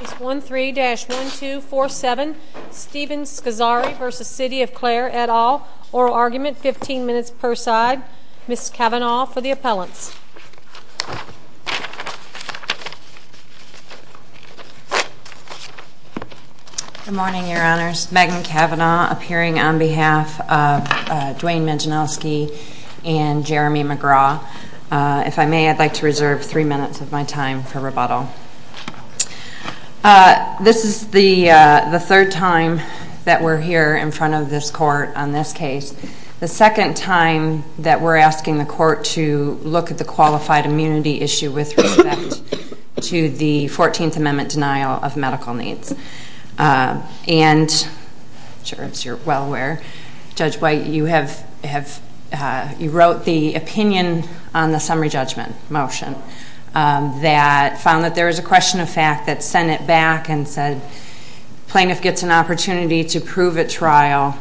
Case 13-1247 Stephen Scozzari v. City of Clare, et al. Oral argument, 15 minutes per side. Ms. Kavanaugh for the appellants. Good morning, Your Honors. Megan Kavanaugh, appearing on behalf of Dwayne Medzianowski and Jeremy McGraw. If I may, I'd like to reserve three minutes of my time for rebuttal. This is the third time that we're here in front of this court on this case. The second time that we're asking the court to look at the qualified immunity issue with respect to the 14th Amendment denial of medical needs. And, I'm sure you're well aware, Judge White, you wrote the opinion on the summary judgment motion that found that there was a question of fact that sent it back and said plaintiff gets an opportunity to prove at trial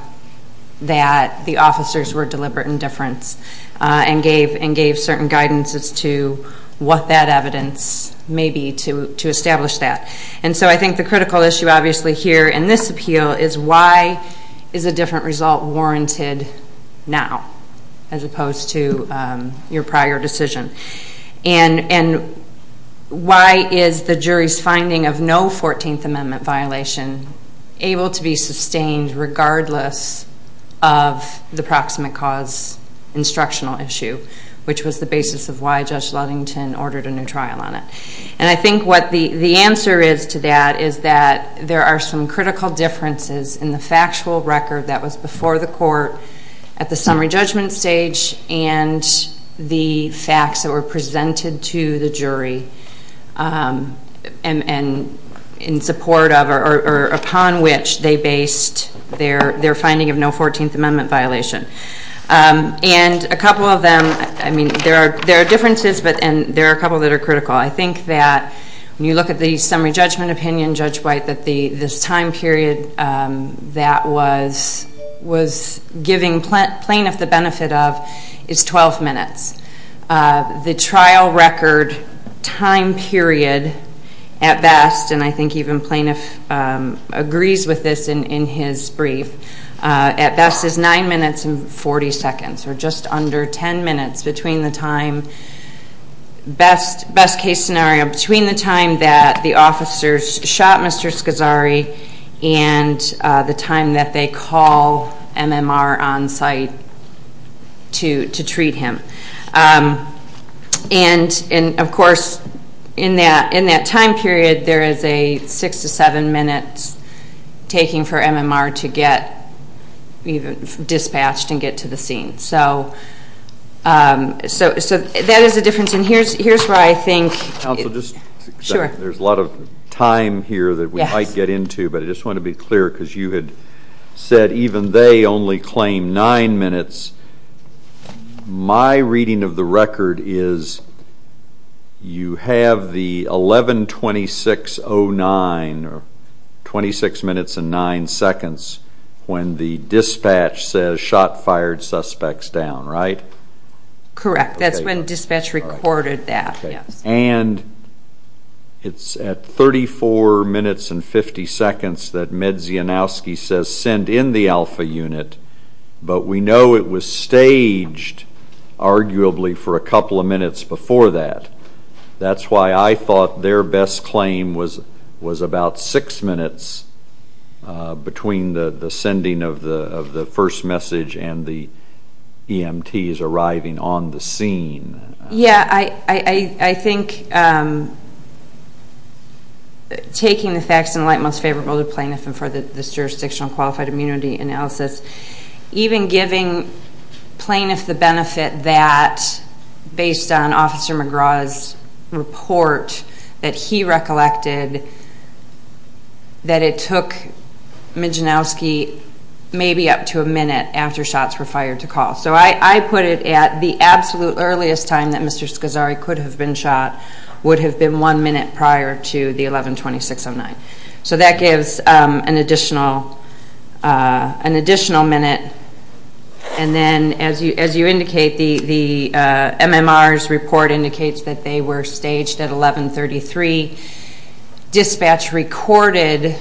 that the officers were deliberate in difference and gave certain guidances to what that evidence may be to establish that. And so I think the critical issue obviously here in this appeal is why is a different result warranted now as opposed to your prior decision. And why is the jury's finding of no 14th Amendment violation able to be sustained regardless of the proximate cause instructional issue, which was the basis of why Judge Ludington ordered a new trial on it. And I think what the answer is to that is that there are some critical differences in the factual record that was before the court at the summary judgment stage and the facts that were presented to the jury and in support of or upon which they based their finding of no 14th Amendment violation. And a couple of them, I mean, there are differences and there are a couple that are critical. I think that when you look at the summary judgment opinion, Judge White, that this time period that was giving plaintiff the benefit of is 12 minutes. The trial record time period at best, and I think even plaintiff agrees with this in his brief, at best is 9 minutes and 40 seconds or just under 10 minutes between the time, best case scenario, between the time that the officers shot Mr. Scazzari and the time that they call MMR on site to treat him. And, of course, in that time period, there is a 6 to 7 minutes taking for MMR to get dispatched and get to the scene. So that is a difference, and here's where I think... Counsel, just a second. Sure. There's a lot of time here that we might get into, but I just want to be clear because you had said even they only claim 9 minutes. My reading of the record is you have the 11-26-09 or 26 minutes and 9 seconds when the dispatch says shot, fired, suspects down, right? Correct. That's when dispatch recorded that, yes. And it's at 34 minutes and 50 seconds that Medzianowski says send in the alpha unit, but we know it was staged arguably for a couple of minutes before that. That's why I thought their best claim was about 6 minutes between the sending of the first message and the EMTs arriving on the scene. Yeah, I think taking the facts in light most favorable to plaintiff and for this jurisdictional qualified immunity analysis, even giving plaintiff the benefit that, based on Officer McGraw's report, that he recollected that it took Medzianowski maybe up to a minute after shots were fired to call. So I put it at the absolute earliest time that Mr. Scazzari could have been shot would have been one minute prior to the 11-26-09. So that gives an additional minute. And then, as you indicate, the MMR's report indicates that they were staged at 11-33. Dispatch recorded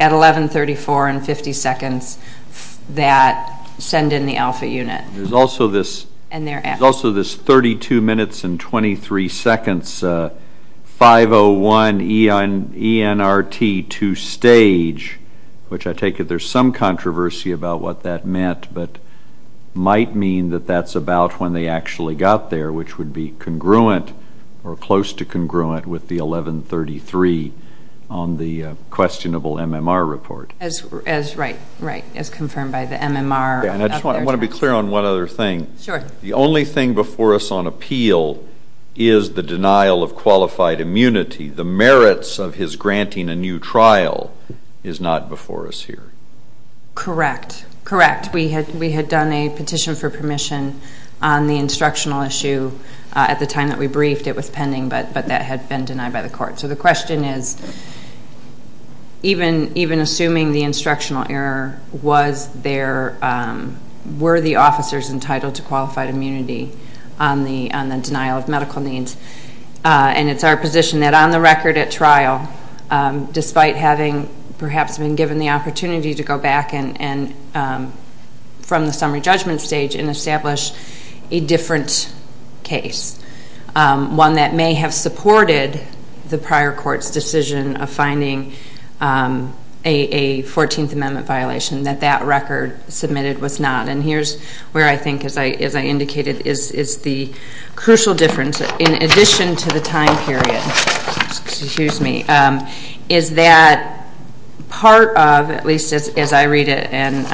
at 11-34-50 seconds that send in the alpha unit. There's also this 32 minutes and 23 seconds 501 ENRT to stage, which I take it there's some controversy about what that meant, but might mean that that's about when they actually got there, which would be congruent or close to congruent with the 11-33 on the questionable MMR report. Right, as confirmed by the MMR. I just want to be clear on one other thing. Sure. The only thing before us on appeal is the denial of qualified immunity. The merits of his granting a new trial is not before us here. Correct, correct. We had done a petition for permission on the instructional issue at the time that we briefed. It was pending, but that had been denied by the court. So the question is, even assuming the instructional error, were the officers entitled to qualified immunity on the denial of medical needs? And it's our position that on the record at trial, despite having perhaps been given the opportunity to go back from the summary judgment stage and establish a different case, one that may have supported the prior court's decision of finding a 14th Amendment violation, that that record submitted was not. And here's where I think, as I indicated, is the crucial difference. In addition to the time period, is that part of, at least as I read it, and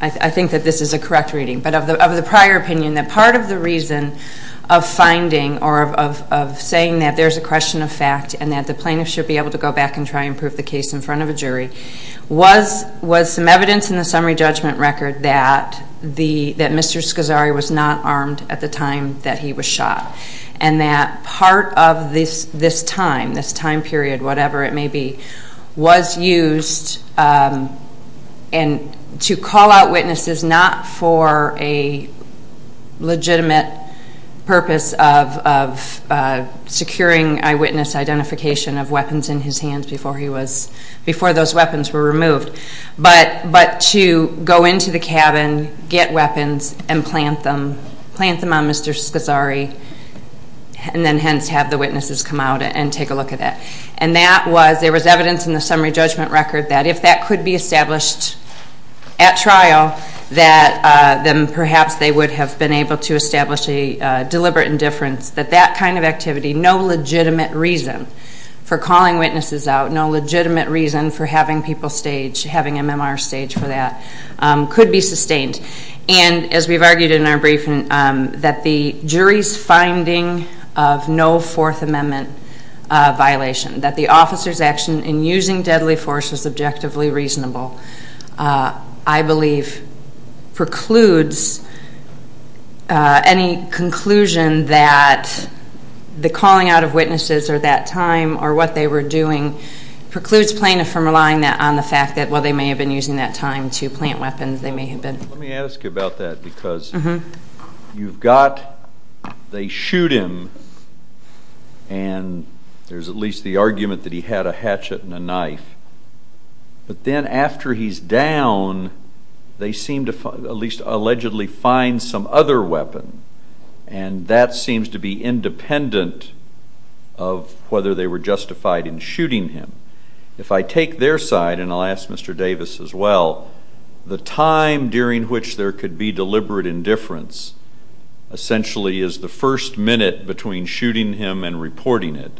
I think that this is a correct reading, but of the prior opinion, that part of the reason of finding or of saying that there's a question of fact and that the plaintiff should be able to go back and try and prove the case in front of a jury, was some evidence in the summary judgment record that Mr. Scazzari was not armed at the time that he was shot. And that part of this time, this time period, whatever it may be, was used to call out witnesses not for a legitimate purpose of securing eyewitness identification of weapons in his hands before those weapons were removed, but to go into the cabin, get weapons, and plant them on Mr. Scazzari and then hence have the witnesses come out and take a look at that. And there was evidence in the summary judgment record that if that could be established at trial, then perhaps they would have been able to establish a deliberate indifference, that that kind of activity, no legitimate reason for calling witnesses out, no legitimate reason for having people staged, having MMR staged for that, could be sustained. And as we've argued in our briefing, that the jury's finding of no Fourth Amendment violation, that the officer's action in using deadly force was objectively reasonable, I believe precludes any conclusion that the calling out of witnesses or that time or what they were doing precludes plaintiff from relying on the fact that, well, they may have been using that time to plant weapons. Let me ask you about that because you've got, they shoot him, and there's at least the argument that he had a hatchet and a knife. But then after he's down, they seem to at least allegedly find some other weapon, and that seems to be independent of whether they were justified in shooting him. If I take their side, and I'll ask Mr. Davis as well, the time during which there could be deliberate indifference essentially is the first minute between shooting him and reporting it.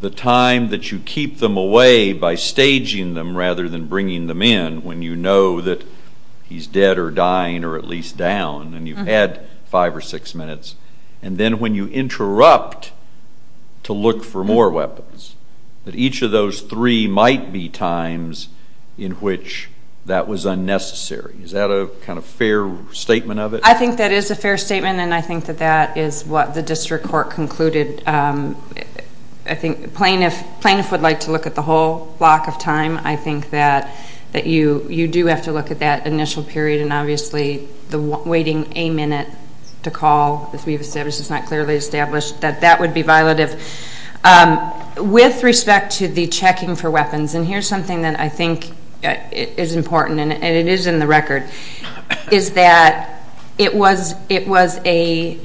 The time that you keep them away by staging them rather than bringing them in when you know that he's dead or dying or at least down, and you've had five or six minutes, and then when you interrupt to look for more weapons, that each of those three might be times in which that was unnecessary. Is that a kind of fair statement of it? I think that is a fair statement, and I think that that is what the district court concluded. I think plaintiffs would like to look at the whole block of time. I think that you do have to look at that initial period, and obviously the waiting a minute to call, as we've established, it's not clearly established that that would be violative. With respect to the checking for weapons, and here's something that I think is important, and it is in the record, is that it was a,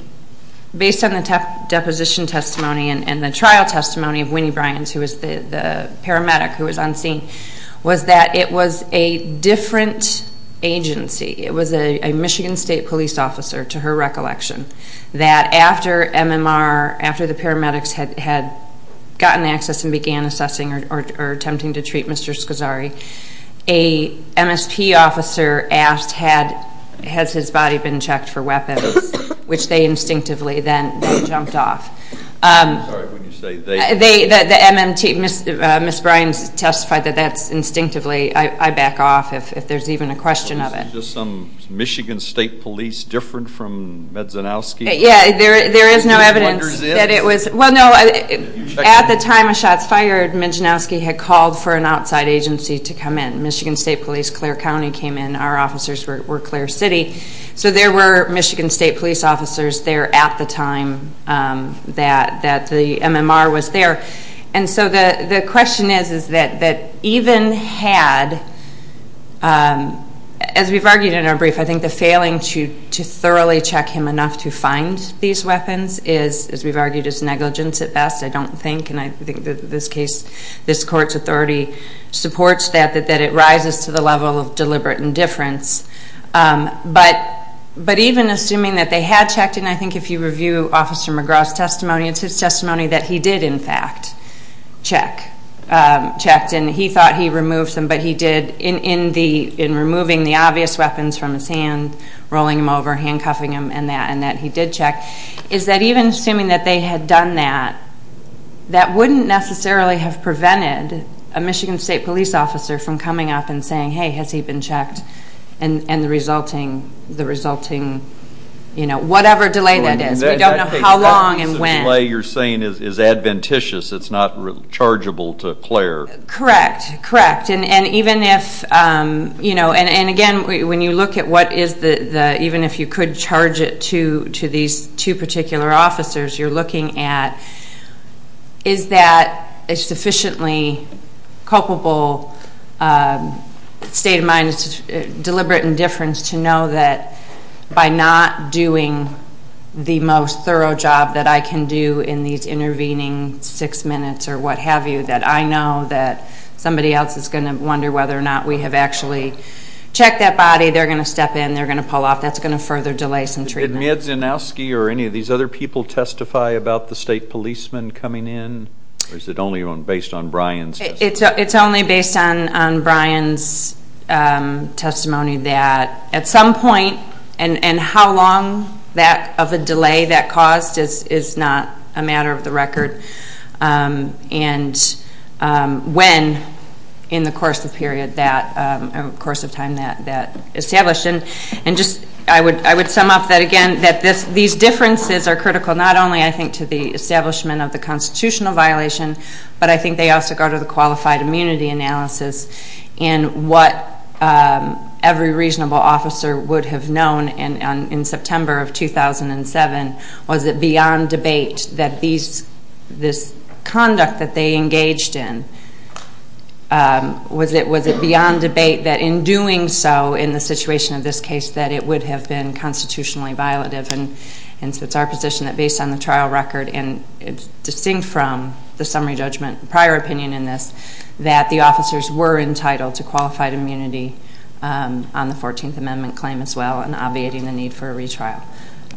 based on the deposition testimony and the trial testimony of Winnie Bryans, who was the paramedic who was on scene, was that it was a different agency. It was a Michigan State police officer, to her recollection, that after MMR, after the paramedics had gotten access and began assessing or attempting to treat Mr. Scazzari, a MSP officer asked, has his body been checked for weapons, which they instinctively then jumped off. I'm sorry, what did you say? The MMT, Ms. Bryans testified that that's instinctively, I back off if there's even a question of it. Was it just some Michigan State police different from Medzanowski? Yeah, there is no evidence that it was. Well, no, at the time of shots fired, Medzanowski had called for an outside agency to come in. Michigan State Police, Clare County came in. Our officers were Clare City. So there were Michigan State police officers there at the time that the MMR was there. And so the question is that even had, as we've argued in our brief, I think the failing to thoroughly check him enough to find these weapons is, as we've argued, is negligence at best, I don't think. And I think that this case, this court's authority supports that, that it rises to the level of deliberate indifference. But even assuming that they had checked him, I think if you review Officer McGraw's testimony, it's his testimony that he did, in fact, check, checked. And he thought he removed them, but he did in removing the obvious weapons from his hand, rolling them over, handcuffing him and that, and that he did check, is that even assuming that they had done that, that wouldn't necessarily have prevented a Michigan State police officer from coming up and saying, hey, has he been checked, and the resulting, you know, whatever delay that is. We don't know how long and when. The delay you're saying is adventitious. It's not chargeable to Clare. Correct, correct. And even if, you know, and again, when you look at what is the, even if you could charge it to these two particular officers you're looking at, is that a sufficiently culpable state of mind, deliberate indifference, to know that by not doing the most thorough job that I can do in these intervening six minutes or what have you that I know that somebody else is going to wonder whether or not we have actually checked that body. They're going to step in. They're going to pull off. That's going to further delay some treatment. Did Medzanowski or any of these other people testify about the state policemen coming in, or is it only based on Brian's testimony? It's only based on Brian's testimony that at some point, and how long of a delay that caused is not a matter of the record, and when in the course of time that established. And just, I would sum up that again, that these differences are critical not only, I think, to the establishment of the constitutional violation, but I think they also go to the qualified immunity analysis in what every reasonable officer would have known in September of 2007. Was it beyond debate that this conduct that they engaged in, was it beyond debate that in doing so in the situation of this case, that it would have been constitutionally violative? And so it's our position that based on the trial record, and distinct from the summary judgment, prior opinion in this, that the officers were entitled to qualified immunity on the 14th Amendment claim as well, and obviating the need for a retrial.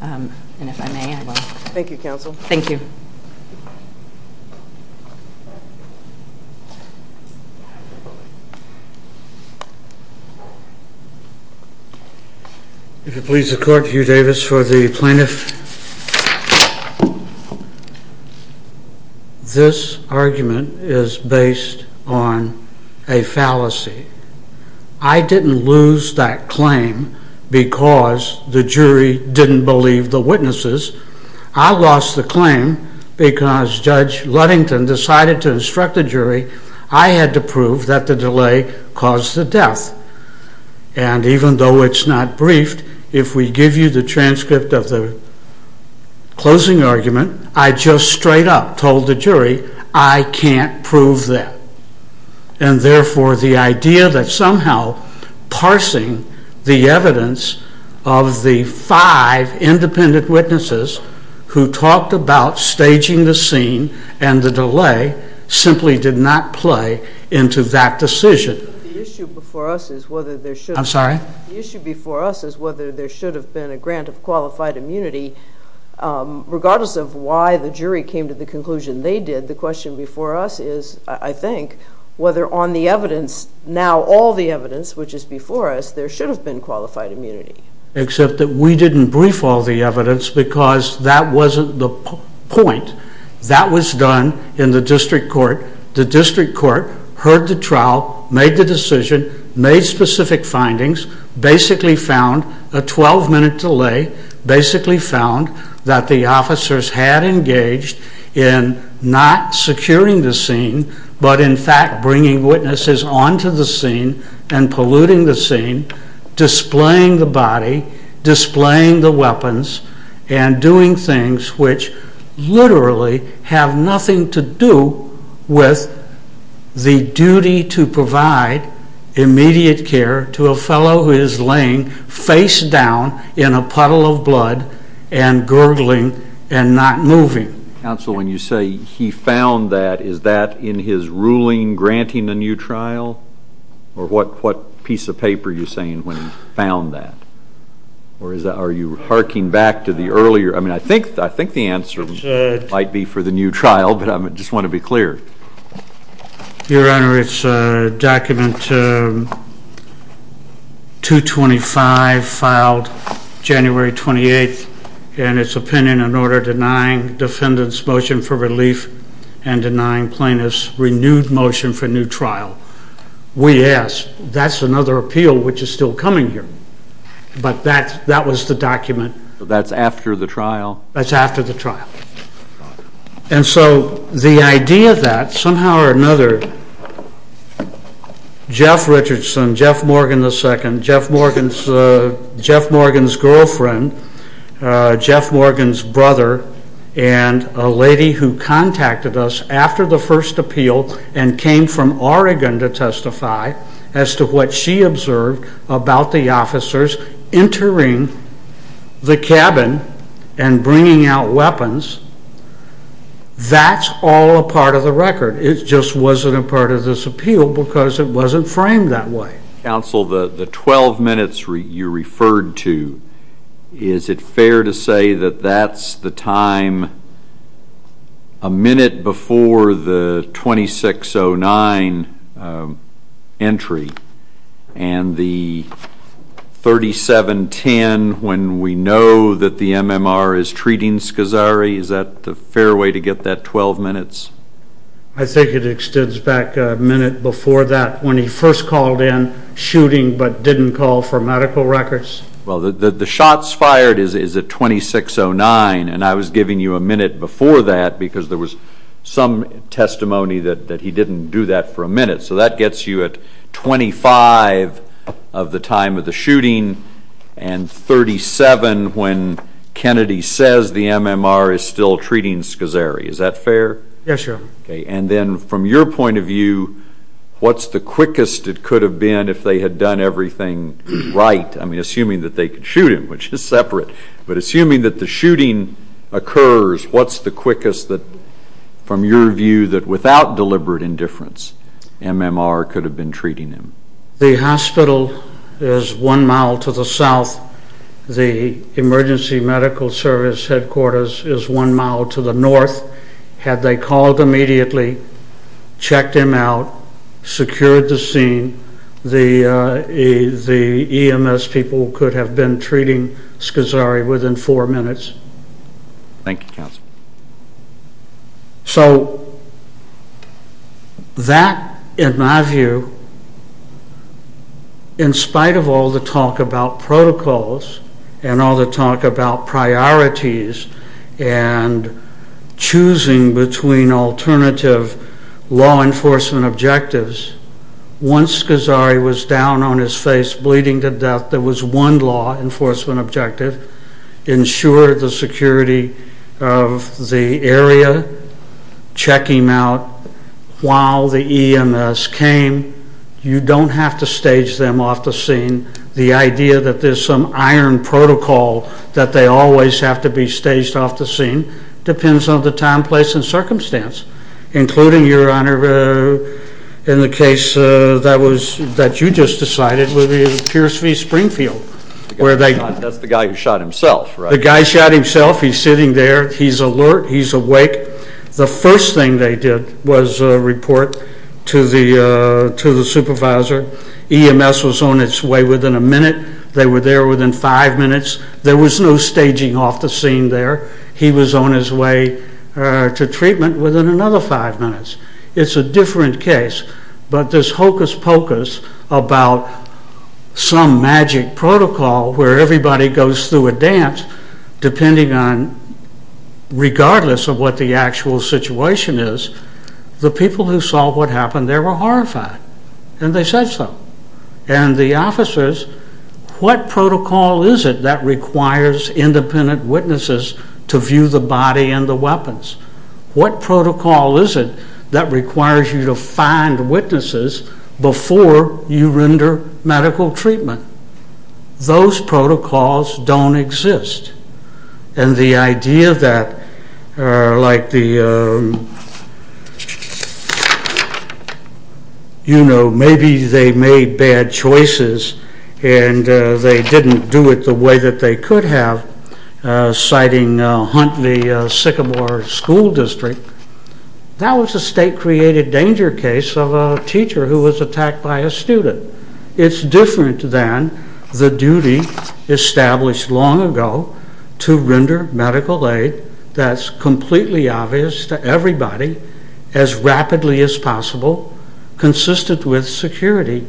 And if I may, I will. Thank you, counsel. Thank you. If it pleases the court, Hugh Davis for the plaintiff. This argument is based on a fallacy. I didn't lose that claim because the jury didn't believe the witnesses. I lost the claim because Judge Ludington decided to instruct the jury. I had to prove that the delay caused the death. And even though it's not briefed, if we give you the transcript of the closing argument, I just straight up told the jury, I can't prove that. And therefore the idea that somehow parsing the evidence of the five independent witnesses who talked about staging the scene and the delay simply did not play into that decision. The issue before us is whether there should have been a grant of qualified immunity. Regardless of why the jury came to the conclusion they did, the question before us is, I think, whether on the evidence, now all the evidence which is before us, there should have been qualified immunity. Except that we didn't brief all the evidence because that wasn't the point. That was done in the district court. The district court heard the trial, made the decision, made specific findings, basically found a 12-minute delay, basically found that the officers had engaged in not securing the scene, but in fact bringing witnesses onto the scene and polluting the scene, displaying the body, displaying the weapons, and doing things which literally have nothing to do with the duty to provide immediate care to a fellow who is laying face down in a puddle of blood and gurgling and not moving. Counsel, when you say he found that, is that in his ruling granting a new trial? Or what piece of paper are you saying when he found that? Or are you harking back to the earlier? I mean, I think the answer might be for the new trial, but I just want to be clear. Your Honor, it's document 225, filed January 28th, and it's opinion and order denying defendant's motion for relief and denying plaintiff's renewed motion for new trial. We ask. That's another appeal which is still coming here. But that was the document. That's after the trial? That's after the trial. And so the idea that somehow or another Jeff Richardson, Jeff Morgan II, Jeff Morgan's girlfriend, Jeff Morgan's brother, and a lady who contacted us after the first appeal and came from Oregon to testify as to what she observed about the officers entering the cabin and bringing out weapons, that's all a part of the record. It just wasn't a part of this appeal because it wasn't framed that way. Counsel, the 12 minutes you referred to, is it fair to say that that's the time a minute before the 2609 entry and the 3710 when we know that the MMR is treating Scazzari? Is that a fair way to get that 12 minutes? I think it extends back a minute before that when he first called in, shooting but didn't call for medical records. Well, the shots fired is at 2609, and I was giving you a minute before that because there was some testimony that he didn't do that for a minute. So that gets you at 25 of the time of the shooting and 37 when Kennedy says the MMR is still treating Scazzari. Is that fair? Yes, sir. And then from your point of view, what's the quickest it could have been if they had done everything right? I mean, assuming that they could shoot him, which is separate, but assuming that the shooting occurs, what's the quickest from your view that without deliberate indifference MMR could have been treating him? The hospital is one mile to the south. The emergency medical service headquarters is one mile to the north. Had they called immediately, checked him out, secured the scene, the EMS people could have been treating Scazzari within four minutes. Thank you, counsel. So that, in my view, in spite of all the talk about protocols and all the talk about priorities and choosing between alternative law enforcement objectives, once Scazzari was down on his face, bleeding to death, there was one law enforcement objective, ensure the security of the area, check him out while the EMS came. You don't have to stage them off the scene. The idea that there's some iron protocol that they always have to be staged off the scene depends on the time, place, and circumstance, including, Your Honor, in the case that you just decided, with Pierce v. Springfield. That's the guy who shot himself, right? The guy shot himself. He's sitting there. He's alert. He's awake. The first thing they did was report to the supervisor. EMS was on its way within a minute. They were there within five minutes. There was no staging off the scene there. He was on his way to treatment within another five minutes. It's a different case. But this hocus-pocus about some magic protocol where everybody goes through a dance, depending on, regardless of what the actual situation is, the people who saw what happened there were horrified. And they said so. And the officers, what protocol is it that requires independent witnesses to view the body and the weapons? What protocol is it that requires you to find witnesses before you render medical treatment? Those protocols don't exist. And the idea that, like the, you know, maybe they made bad choices and they didn't do it the way that they could have, citing Huntley-Sycamore School District, that was a state-created danger case of a teacher who was attacked by a student. It's different than the duty established long ago to render medical aid that's completely obvious to everybody as rapidly as possible, consistent with security.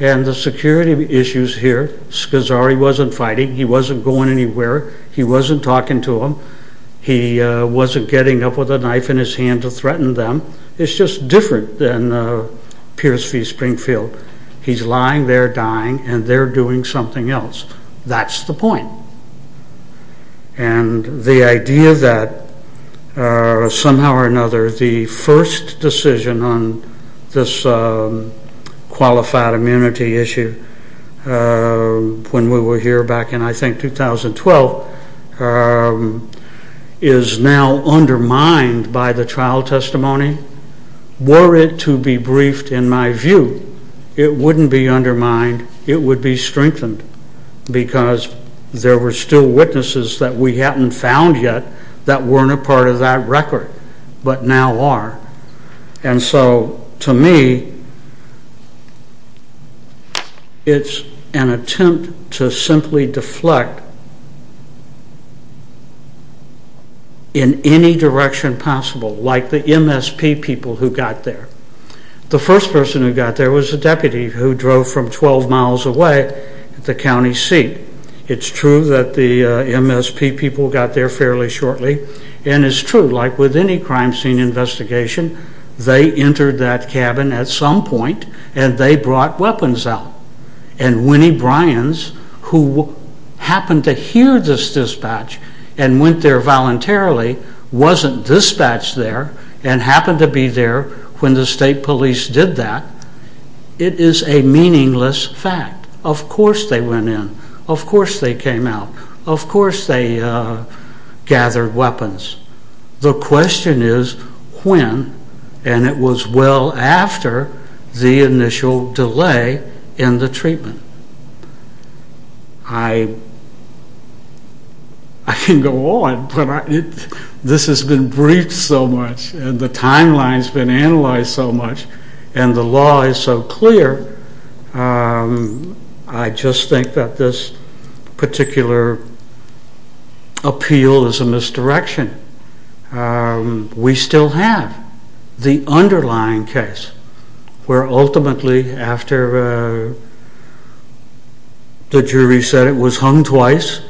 And the security issues here, Schizari wasn't fighting, he wasn't going anywhere, he wasn't talking to them, he wasn't getting up with a knife in his hand to threaten them. It's just different than Pierce v. Springfield. He's lying there dying and they're doing something else. And the idea that, somehow or another, the first decision on this qualified immunity issue, when we were here back in, I think, 2012, is now undermined by the trial testimony, were it to be briefed, in my view, it wouldn't be undermined, it would be strengthened, because there were still witnesses that we hadn't found yet that weren't a part of that record. But now are. And so, to me, it's an attempt to simply deflect in any direction possible, like the MSP people who got there. The first person who got there was a deputy who drove from 12 miles away at the county seat. It's true that the MSP people got there fairly shortly, and it's true, like with any crime scene investigation, they entered that cabin at some point and they brought weapons out. And Winnie Bryans, who happened to hear this dispatch and went there voluntarily, wasn't dispatched there and happened to be there when the state police did that. It is a meaningless fact. Of course they went in, of course they came out, of course they gathered weapons. The question is when, and it was well after the initial delay in the treatment. I can go on, but this has been briefed so much, and the timeline has been analyzed so much, and the law is so clear, I just think that this particular appeal is a misdirection. We still have the underlying case, where ultimately after the jury said it was hung twice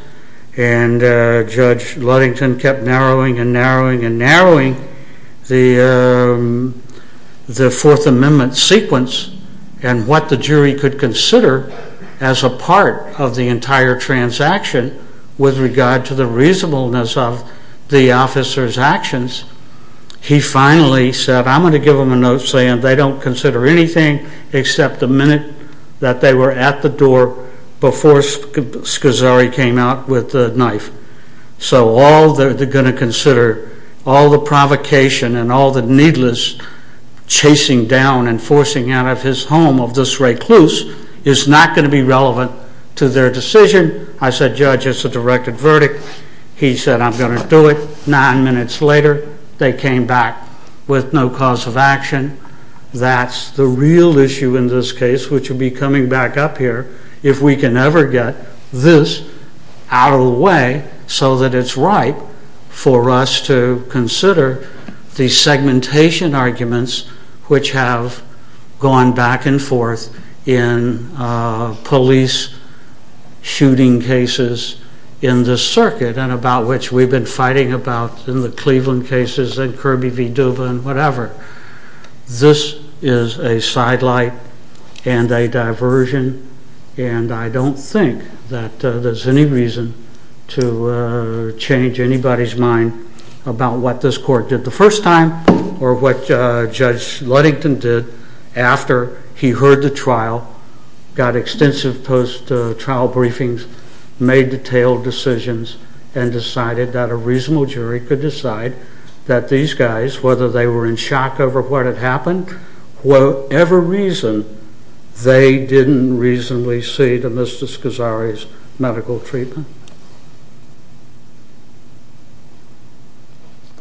and Judge Ludington kept narrowing and narrowing and narrowing the Fourth Amendment sequence and what the jury could consider as a part of the entire transaction with regard to the reasonableness of the officer's actions, he finally said, I'm going to give them a note saying they don't consider anything except the minute that they were at the door before Scosari came out with the knife. So all they're going to consider, all the provocation and all the needless chasing down and forcing out of his home of this recluse, is not going to be relevant to their decision. I said, Judge, it's a directed verdict. He said, I'm going to do it. Nine minutes later they came back with no cause of action. That's the real issue in this case, which will be coming back up here if we can ever get this out of the way so that it's right for us to consider the segmentation arguments which have gone back and forth in police shooting cases in this circuit and about which we've been fighting about in the Cleveland cases and Kirby v. Duva and whatever. This is a sidelight and a diversion and I don't think that there's any reason to change anybody's mind about what this court did the first time or what Judge Ludington did after he heard the trial, got extensive post-trial briefings, made detailed decisions, and decided that a reasonable jury could decide that these guys, whether they were in shock over what had happened, for whatever reason, they didn't reasonably see to Mr. Scosari's medical treatment.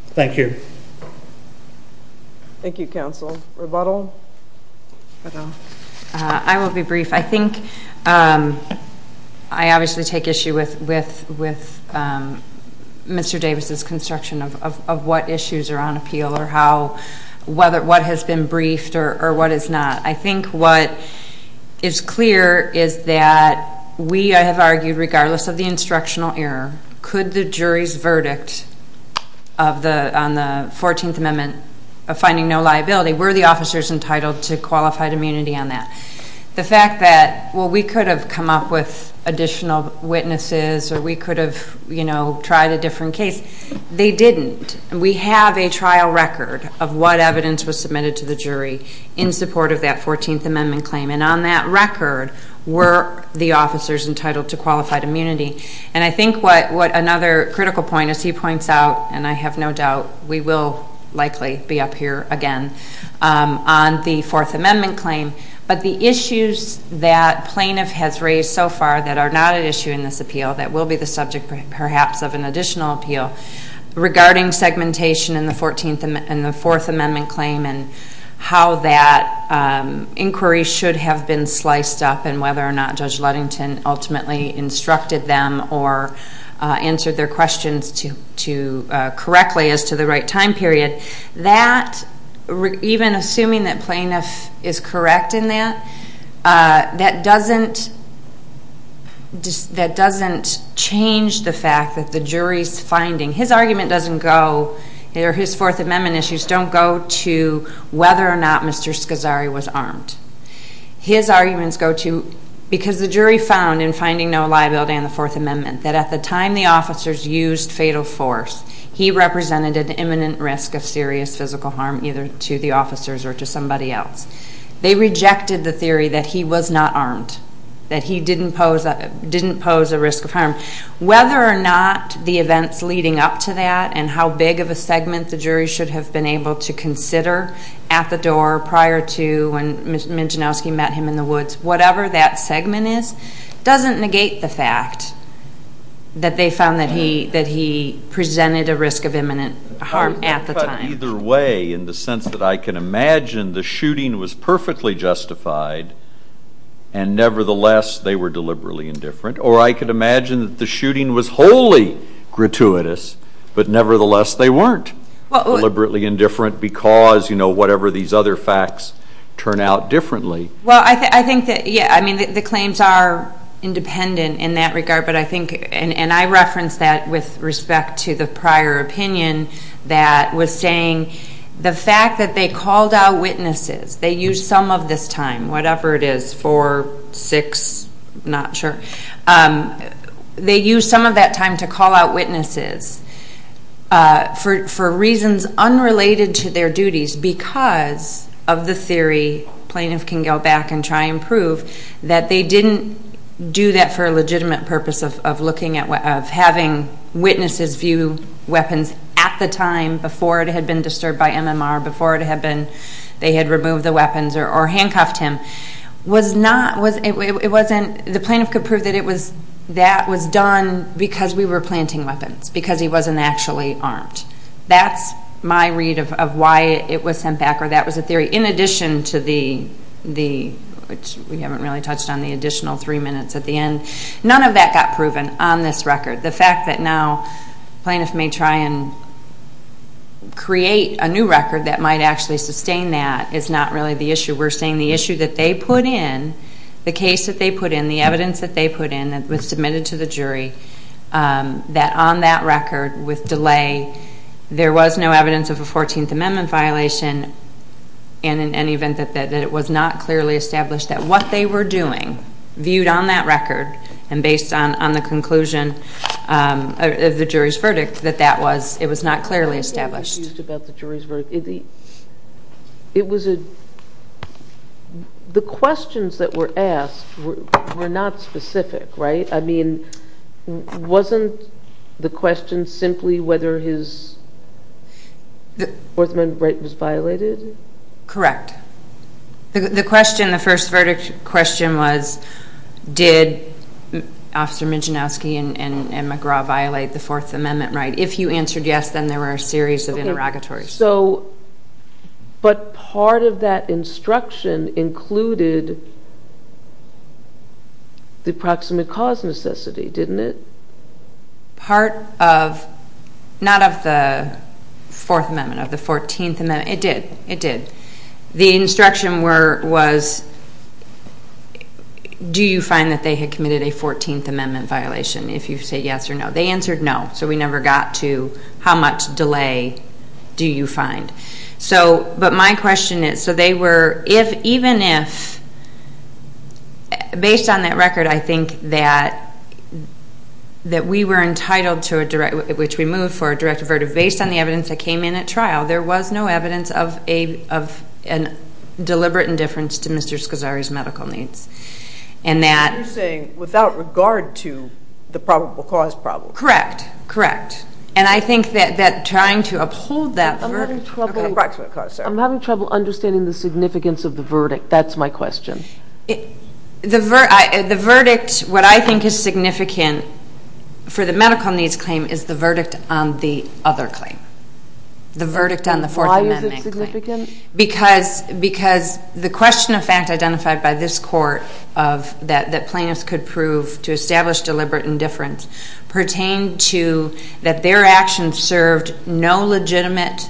Thank you. Thank you, counsel. Rebuttal? I will be brief. I think I obviously take issue with Mr. Davis' construction of what issues are on appeal or what has been briefed or what is not. I think what is clear is that we have argued, regardless of the instructional error, could the jury's verdict on the 14th Amendment of finding no liability, were the officers entitled to qualified immunity on that? The fact that we could have come up with additional witnesses or we could have tried a different case, they didn't. We have a trial record of what evidence was submitted to the jury in support of that 14th Amendment claim. And on that record, were the officers entitled to qualified immunity? And I think what another critical point, as he points out, and I have no doubt, we will likely be up here again on the Fourth Amendment claim, but the issues that plaintiff has raised so far that are not at issue in this appeal, that will be the subject perhaps of an additional appeal, regarding segmentation in the Fourth Amendment claim and how that inquiry should have been sliced up and whether or not Judge Ludington ultimately instructed them or answered their questions correctly as to the right time period. That, even assuming that plaintiff is correct in that, that doesn't change the fact that the jury's finding. His argument doesn't go, or his Fourth Amendment issues don't go to whether or not Mr. Scazzari was armed. His arguments go to, because the jury found in finding no liability on the Fourth Amendment that at the time the officers used fatal force, he represented an imminent risk of serious physical harm either to the officers or to somebody else. They rejected the theory that he was not armed, that he didn't pose a risk of harm. Whether or not the events leading up to that and how big of a segment the jury should have been able to consider at the door prior to when Mijanowski met him in the woods, whatever that segment is, doesn't negate the fact that they found that he presented a risk of imminent harm at the time. But either way, in the sense that I can imagine the shooting was perfectly justified and nevertheless they were deliberately indifferent, or I could imagine that the shooting was wholly gratuitous, but nevertheless they weren't deliberately indifferent because, you know, whatever these other facts turn out differently. Well, I think that, yeah, I mean, the claims are independent in that regard, but I think, and I reference that with respect to the prior opinion that was saying the fact that they called out witnesses, they used some of this time, whatever it is, four, six, not sure, they used some of that time to call out witnesses for reasons unrelated to their duties because of the theory, plaintiff can go back and try and prove, that they didn't do that for a legitimate purpose of having witnesses view weapons at the time before it had been disturbed by MMR, before they had removed the weapons or handcuffed him. The plaintiff could prove that that was done because we were planting weapons, because he wasn't actually armed. That's my read of why it was sent back, or that was a theory in addition to the, which we haven't really touched on, the additional three minutes at the end. None of that got proven on this record. The fact that now plaintiff may try and create a new record that might actually sustain that is not really the issue. We're saying the issue that they put in, the case that they put in, the evidence that they put in that was submitted to the jury, that on that record with delay, there was no evidence of a 14th Amendment violation and in any event that it was not clearly established that what they were doing, viewed on that record and based on the conclusion of the jury's verdict, that that was, it was not clearly established. What do you think was used about the jury's verdict? It was a, the questions that were asked were not specific, right? I mean, wasn't the question simply whether his 14th Amendment right was violated? Correct. The question, the first verdict question was, did Officer Mijanowski and McGraw violate the Fourth Amendment right? If you answered yes, then there were a series of interrogatories. Okay, so, but part of that instruction included the proximate cause necessity, didn't it? It did, it did. The instruction was, do you find that they had committed a 14th Amendment violation if you say yes or no? They answered no, so we never got to, how much delay do you find? So, but my question is, so they were, if, even if, based on that record, I think that we were entitled to a direct, which we moved for a direct avertive, based on the evidence that came in at trial, there was no evidence of a deliberate indifference to Mr. Scosari's medical needs. And that... You're saying without regard to the probable cause problem. Correct, correct. And I think that trying to uphold that... Approximate cause, Sarah. I'm having trouble understanding the significance of the verdict. That's my question. The verdict, what I think is significant for the medical needs claim is the verdict on the other claim. The verdict on the Fourth Amendment claim. Why is it significant? Because the question of fact identified by this court that plaintiffs could prove to establish deliberate indifference pertained to that their actions served no legitimate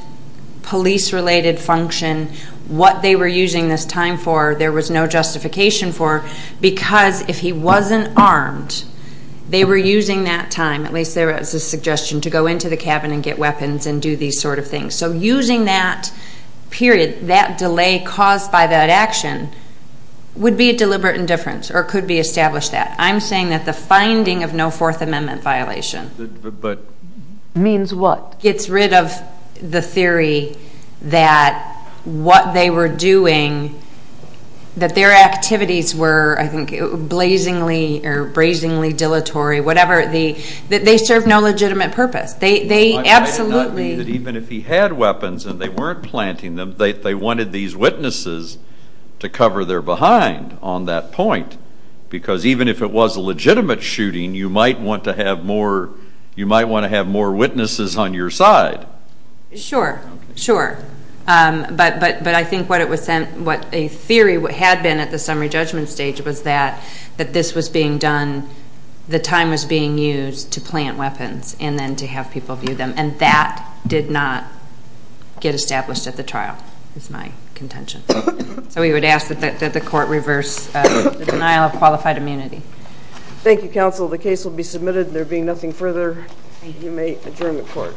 police-related function, what they were using this time for, there was no justification for, because if he wasn't armed, they were using that time, at least there was a suggestion, to go into the cabin and get weapons and do these sort of things. So using that period, that delay caused by that action, would be a deliberate indifference or could be established that. I'm saying that the finding of no Fourth Amendment violation... Means what? Gets rid of the theory that what they were doing, that their activities were, I think, blazingly or brazingly dilatory, whatever, that they served no legitimate purpose. They absolutely... It might not mean that even if he had weapons and they weren't planting them, they wanted these witnesses to cover their behind on that point, because even if it was a legitimate shooting, you might want to have more witnesses on your side. Sure, sure. But I think what a theory had been at the summary judgment stage was that this was being done, the time was being used to plant weapons and then to have people view them, and that did not get established at the trial, is my contention. So we would ask that the court reverse the denial of qualified immunity. Thank you, counsel. The case will be submitted. There being nothing further, you may adjourn the court.